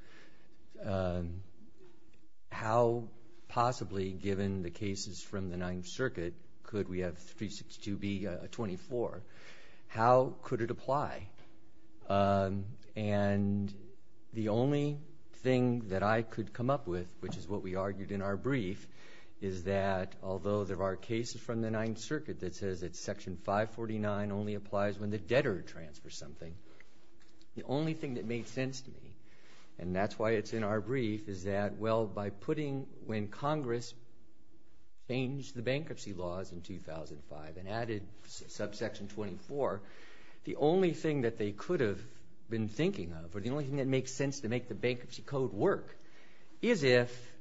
How possibly, given the cases from the Ninth Circuit, could we have 362-24? How could it apply? And the only thing that I could come up with, which is what we argued in our brief, is that although there are cases from the Ninth Circuit that says that section 549 only applies when the debtor transfers something, the only thing that made sense to me, and that's why it's in our brief, is that, well, by putting when Congress fanged the bankruptcy laws in 2005 and added subsection 24, the only thing that they could have been thinking of, or the only thing that makes sense to make the bankruptcy code work, is if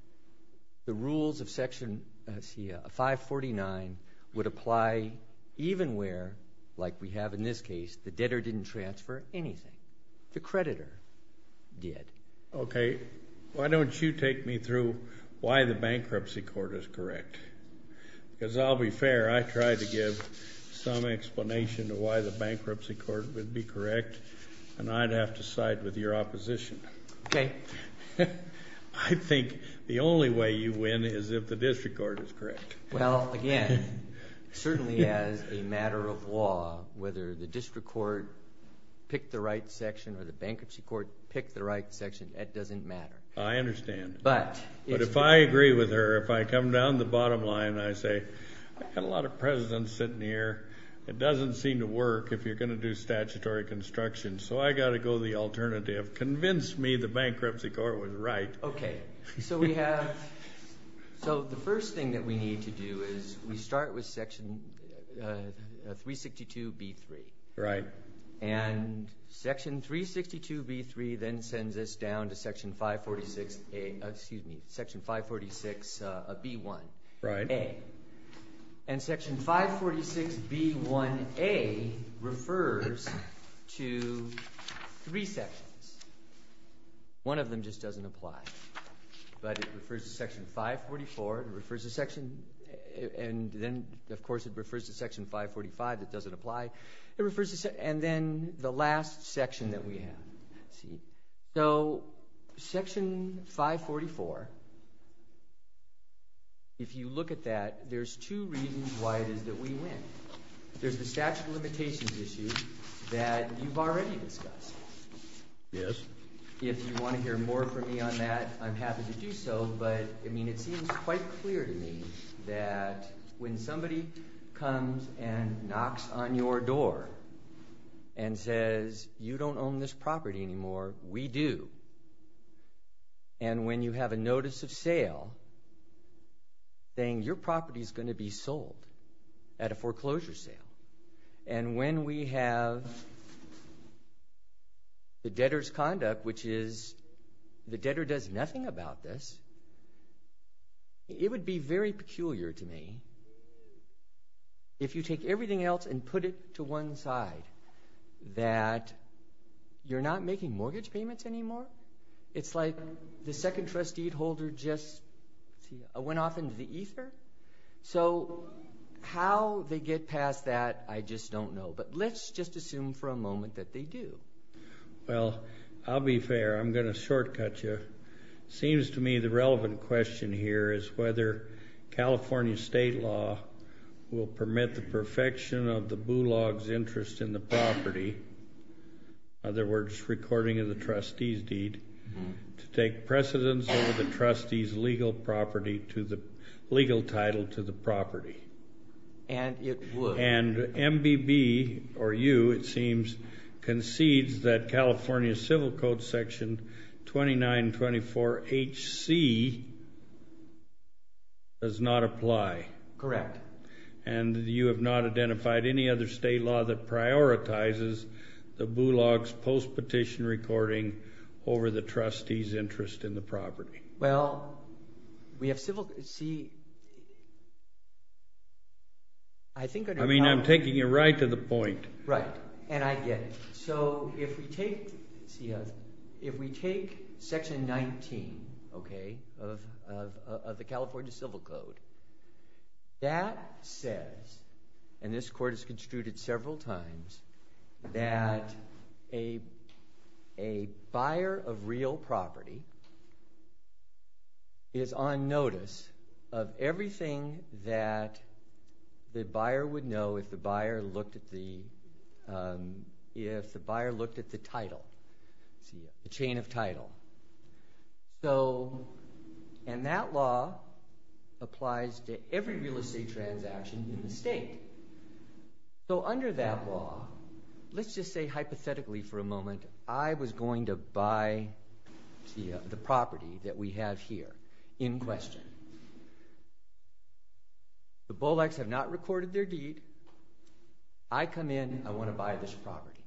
the rules of section 549 would apply even where, like we have in this case, the debtor didn't transfer anything. The creditor did. Okay. Why don't you take me through why the bankruptcy court is correct? Because I'll be fair. I tried to give some explanation to why the bankruptcy court would be correct, and I'd have to side with your opposition. Okay. I think the only way you win is if the district court is correct. Well, again, certainly as a matter of law, whether the district court pick the right section or the bankruptcy court pick the right section, that doesn't matter. I understand. But it's- But if I agree with her, if I come down the bottom line, I say, I've got a lot of presidents sitting here. It doesn't seem to work if you're going to do statutory construction. So I got to go the alternative. Convince me the bankruptcy court was right. Okay. So we have, so the first thing that we need to do is we start with section 362B3. Right. And section 362B3 then sends us down to section 546A, excuse me, section 546B1. Right. A. And section 546B1A refers to three sections. One of them just doesn't apply. But it refers to section 544, it refers to section, and then of course it refers to section 545 that doesn't apply. It refers to, and then the last section that we have. See. So section 544, if you look at that, there's two reasons why it is that we win. There's the statute of limitations issue that you've already discussed. Yes. If you want to hear more from me on that, I'm happy to do so. But I mean, it seems quite clear to me that when somebody comes and knocks on your door and says you don't own this property anymore, we do. And when you have a notice of sale saying your property's going to be sold at a foreclosure sale. And when we have the debtor's conduct, which is the debtor does nothing about this, it would be very peculiar to me if you take everything else and put it to one side that you're not making mortgage payments anymore. It's like the second trustee holder just went off into the ether. So how they get past that, I just don't know. But let's just assume for a moment that they do. Well, I'll be fair. I'm going to shortcut you. Seems to me the relevant question here is whether California state law will permit the perfection of the boo logs interest in the property. In other words, recording of the trustee's deed to take precedence over the trustee's legal property to the legal title to the property. And it would. And MBB or you, it seems, concedes that California civil code section 2924HC does not apply. Correct. And you have not identified any other state law that prioritizes the boo logs post petition recording over the trustee's interest in the property. Well, we have civil, see, I think I know. I mean, I'm taking you right to the point. Right. And I get it. So if we take, see, if we take section 19, okay, of the California civil code, that says, and this court has construed it several times, that a buyer of real property is on notice of everything that the buyer would know if the buyer looked at the, if the buyer looked at the title, the chain of title. So, and that law applies to every real estate transaction in the state. So under that law, let's just say hypothetically for a moment, I was going to buy the property that we have here in question. The bollocks have not recorded their deed. I come in, I want to buy this property.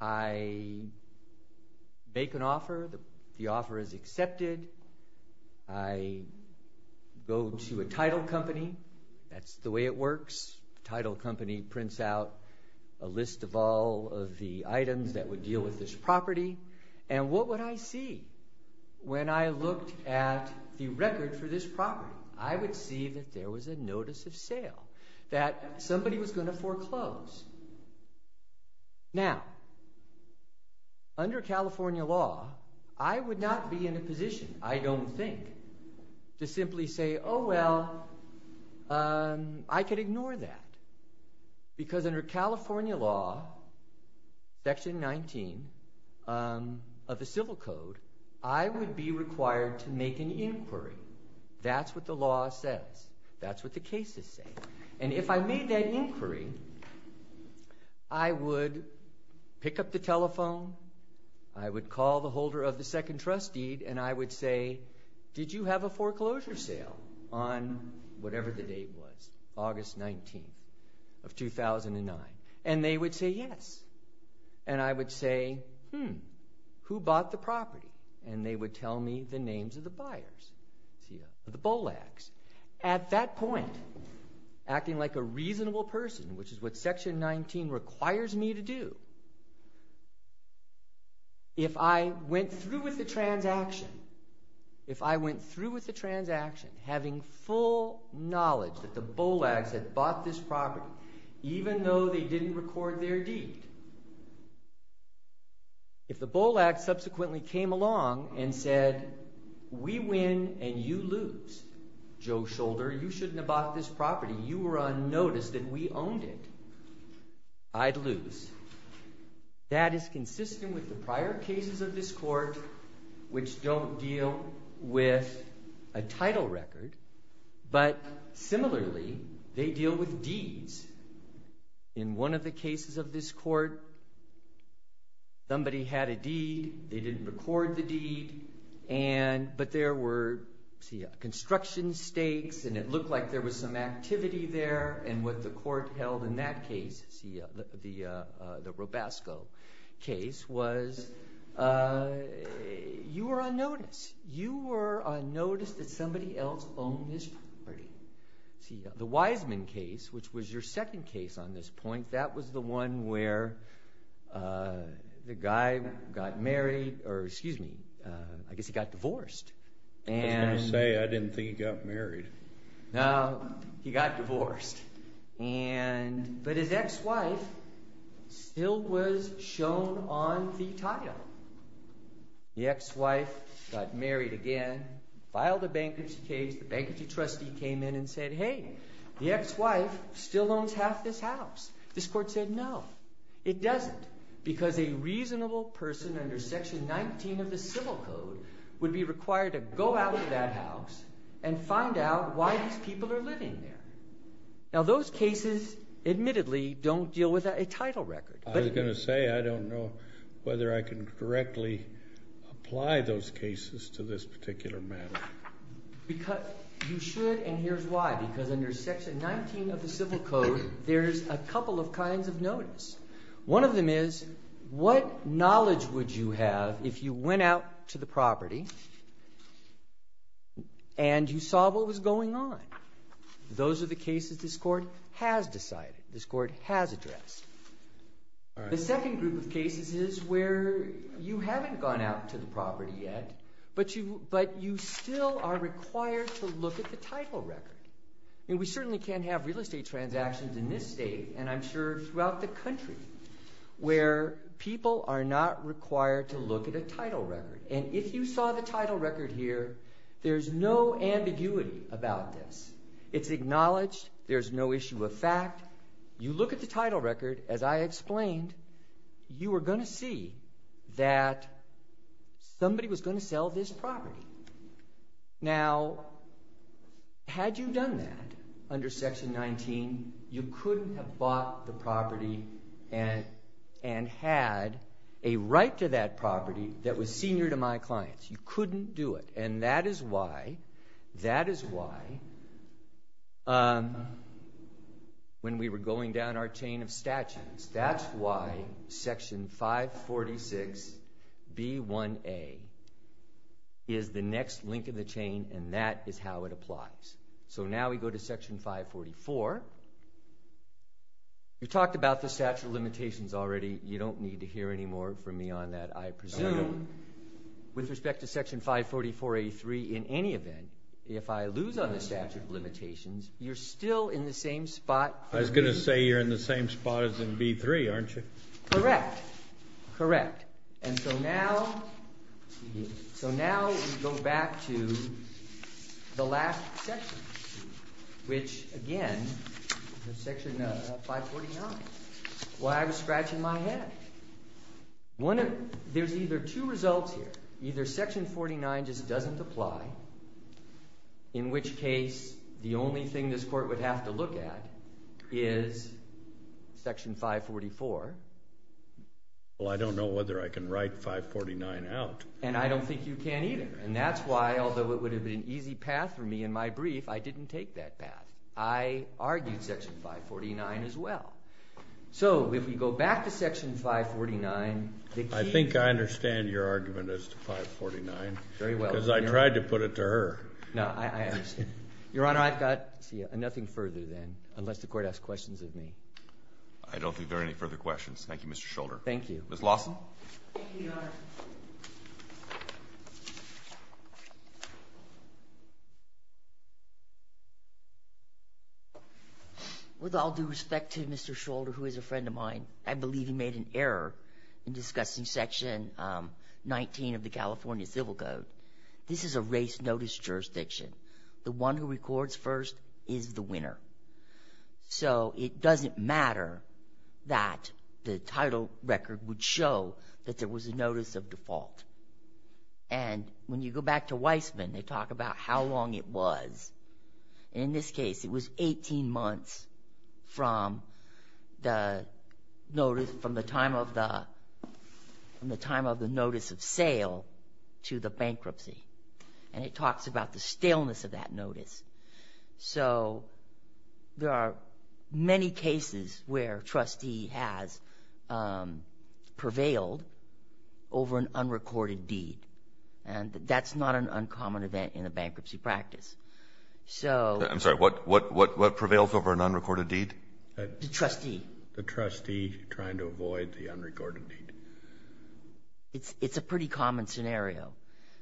I make an offer. The offer is accepted. I go to a title company. That's the way it works. Title company prints out a list of all of the items that would deal with this property. And what would I see when I looked at the record for this property? I would see that there was a notice of sale, that somebody was going to foreclose. Now, under California law, I would not be in a position, I don't think, to simply say, oh, well, I could ignore that. Because under California law, section 19 of the civil code, I would be required to make an inquiry. That's what the law says. That's what the cases say. And if I made that inquiry, I would pick up the telephone, I would call the holder of the second trust deed, and I would say, did you have a foreclosure sale on whatever the date was, August 19th of 2009? And they would say yes. And I would say, hmm, who bought the property? And they would tell me the names of the buyers, the bollocks. At that point, acting like a reasonable person, which is what section 19 requires me to do, if I went through with the transaction, if I went through with the transaction having full knowledge that the bollocks had bought this property, even though they didn't record their deed, if the bollocks subsequently came along and said, we win and you lose, Joe Shoulder, you shouldn't have bought this property, you were unnoticed and we owned it, I'd lose. That is consistent with the prior cases of this court, which don't deal with a title record, but similarly, they deal with deeds. In one of the cases of this court, somebody had a deed, they didn't record the deed, but there were, see, construction stakes and it looked like there was some activity there and what the court held in that case, the Robasco case, was you were unnoticed. You were unnoticed that somebody else owned this property. See, the Wiseman case, which was your second case on this point, that was the one where the guy got married, or excuse me, I guess he got divorced. And- I was gonna say, I didn't think he got married. No, he got divorced. And, but his ex-wife still was shown on the title. The ex-wife got married again, filed a bankruptcy case, the bankruptcy trustee came in and said, hey, the ex-wife still owns half this house. This court said, no, it doesn't, because a reasonable person under section 19 of the civil code would be required to go out of that house and find out why these people are living there. Now, those cases, admittedly, don't deal with a title record. I was gonna say, I don't know whether I can directly apply those cases to this particular matter. Because you should, and here's why, because under section 19 of the civil code, there's a couple of kinds of notice. One of them is, what knowledge would you have if you went out to the property and you saw what was going on? Those are the cases this court has decided, this court has addressed. The second group of cases is where you haven't gone out to the property yet, but you still are required to look at the title record. And we certainly can't have real estate transactions in this state, and I'm sure throughout the country, where people are not required to look at a title record. And if you saw the title record here, there's no ambiguity about this. It's acknowledged, there's no issue of fact. You look at the title record, as I explained, you are gonna see that somebody was gonna sell this property. Now, had you done that under section 19, you couldn't have bought the property and had a right to that property that was senior to my clients. You couldn't do it. And that is why, that is why when we were going down our chain of statutes, that's why section 546B1A is the next link in the chain, and that is how it applies. So now we go to section 544. We talked about the statute of limitations already. With respect to section 544A3, in any event, if I lose on the statute of limitations, you're still in the same spot. I was gonna say you're in the same spot as in B3, aren't you? Correct, correct. And so now, so now we go back to the last section, which again, the section 549, why I was scratching my head. One of, there's either two results here. Either section 49 just doesn't apply, in which case the only thing this court would have to look at is section 544. Well, I don't know whether I can write 549 out. And I don't think you can either. And that's why, although it would have been an easy path for me in my brief, I didn't take that path. I argued section 549 as well. So if we go back to section 549, the key. I think I understand your argument as to 549. Very well. Because I tried to put it to her. No, I understand. Your Honor, I've got nothing further then, unless the court asks questions of me. I don't think there are any further questions. Thank you, Mr. Scholder. Thank you. Ms. Lawson. Thank you, Your Honor. Your Honor, with all due respect to Mr. Scholder, who is a friend of mine, I believe he made an error in discussing section 19 of the California Civil Code. This is a race notice jurisdiction. The one who records first is the winner. So it doesn't matter that the title record would show that there was a notice of default. And when you go back to Weissman, they talk about how long it was. In this case, it was 18 months from the notice, from the time of the notice of sale to the bankruptcy. And it talks about the staleness of that notice. So there are many cases where a trustee has prevailed over an unrecorded deed. And that's not an uncommon event in a bankruptcy practice. So. I'm sorry, what prevails over an unrecorded deed? The trustee. The trustee trying to avoid the unrecorded deed. It's a pretty common scenario.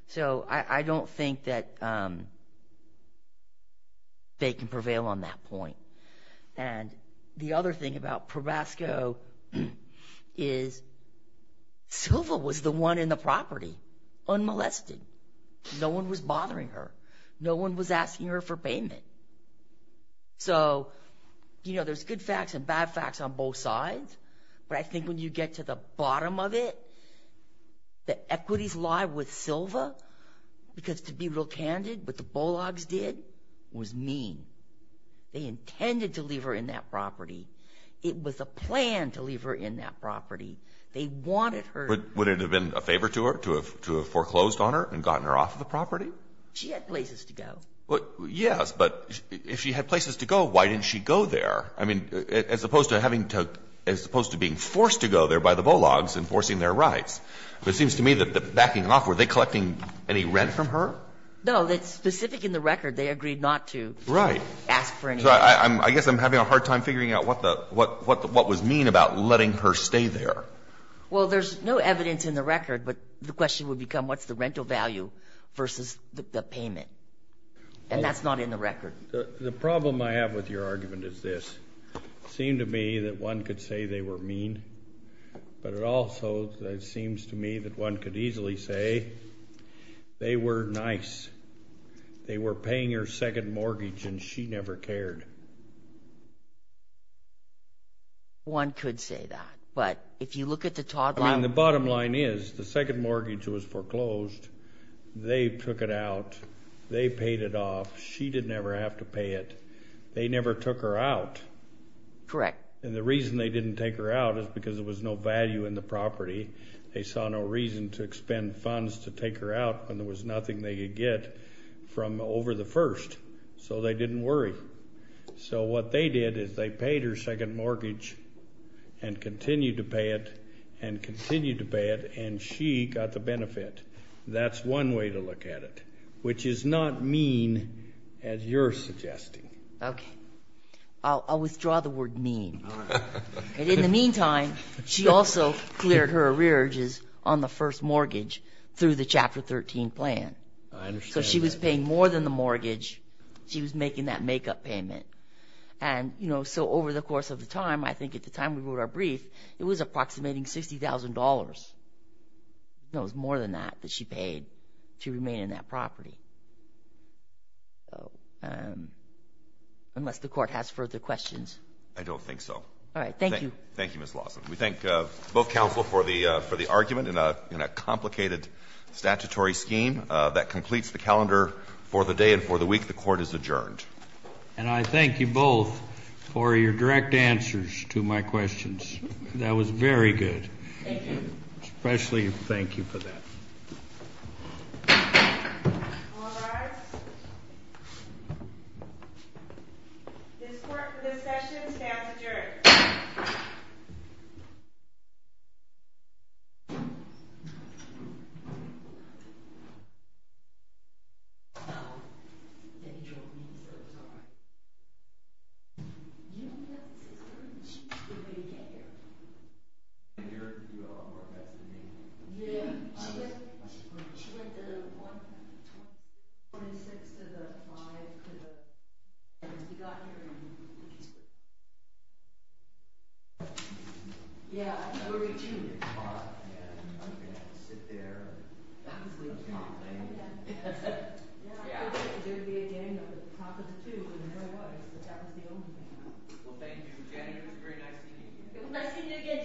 So I don't think that they can prevail on that point. And the other thing about ProBasco is Silva was the one in the property, unmolested. No one was bothering her. No one was asking her for payment. So, you know, there's good facts and bad facts on both sides but I think when you get to the bottom of it, the equities lie with Silva because to be real candid, what the Bulldogs did was mean. They intended to leave her in that property. It was a plan to leave her in that property. They wanted her. Would it have been a favor to her, to have foreclosed on her and gotten her off the property? She had places to go. Well, yes, but if she had places to go, why didn't she go there? I mean, as opposed to having to, as opposed to being forced to go there by the Bulldogs and forcing their rights. But it seems to me that the backing off, were they collecting any rent from her? No, that's specific in the record. They agreed not to. Ask for anything. I guess I'm having a hard time figuring out what was mean about letting her stay there. Well, there's no evidence in the record but the question would become, what's the rental value versus the payment? And that's not in the record. The problem I have with your argument is this. Seemed to me that one could say they were mean, but it also seems to me that one could easily say, they were nice. They were paying her second mortgage and she never cared. One could say that, but if you look at the top line. The bottom line is the second mortgage was foreclosed. They took it out. They paid it off. She didn't ever have to pay it. They never took her out. Correct. And the reason they didn't take her out is because there was no value in the property. They saw no reason to expend funds to take her out and there was nothing they could get from over the first. So they didn't worry. So what they did is they paid her second mortgage and continued to pay it and continued to pay it and she got the benefit. That's one way to look at it, which is not mean as you're suggesting. Okay. I'll withdraw the word mean. All right. And in the meantime, she also cleared her arrearages on the first mortgage through the Chapter 13 plan. I understand that. So she was paying more than the mortgage. She was making that makeup payment. And so over the course of the time, I think at the time we wrote our brief, it was approximating $60,000. No, it was more than that that she paid to remain in that property. Unless the court has further questions. I don't think so. All right, thank you. Thank you, Ms. Lawson. We thank both counsel for the argument in a complicated statutory scheme that completes the calendar for the day and for the week. The court is adjourned. And I thank you both for your direct answers to my questions. That was very good. Thank you. Especially, thank you for that. All rise. This court for this session stands adjourned. Thank you. Yeah, I'm gonna reach in there tomorrow. Yeah, I'm gonna have to sit there and complain. Yeah. Yeah. Yeah. There'd be a game of the top of the two and there was, but that was the only thing. Well, thank you, Jenny. It was very nice to meet you. It was nice to meet you again, Joe. Thank you.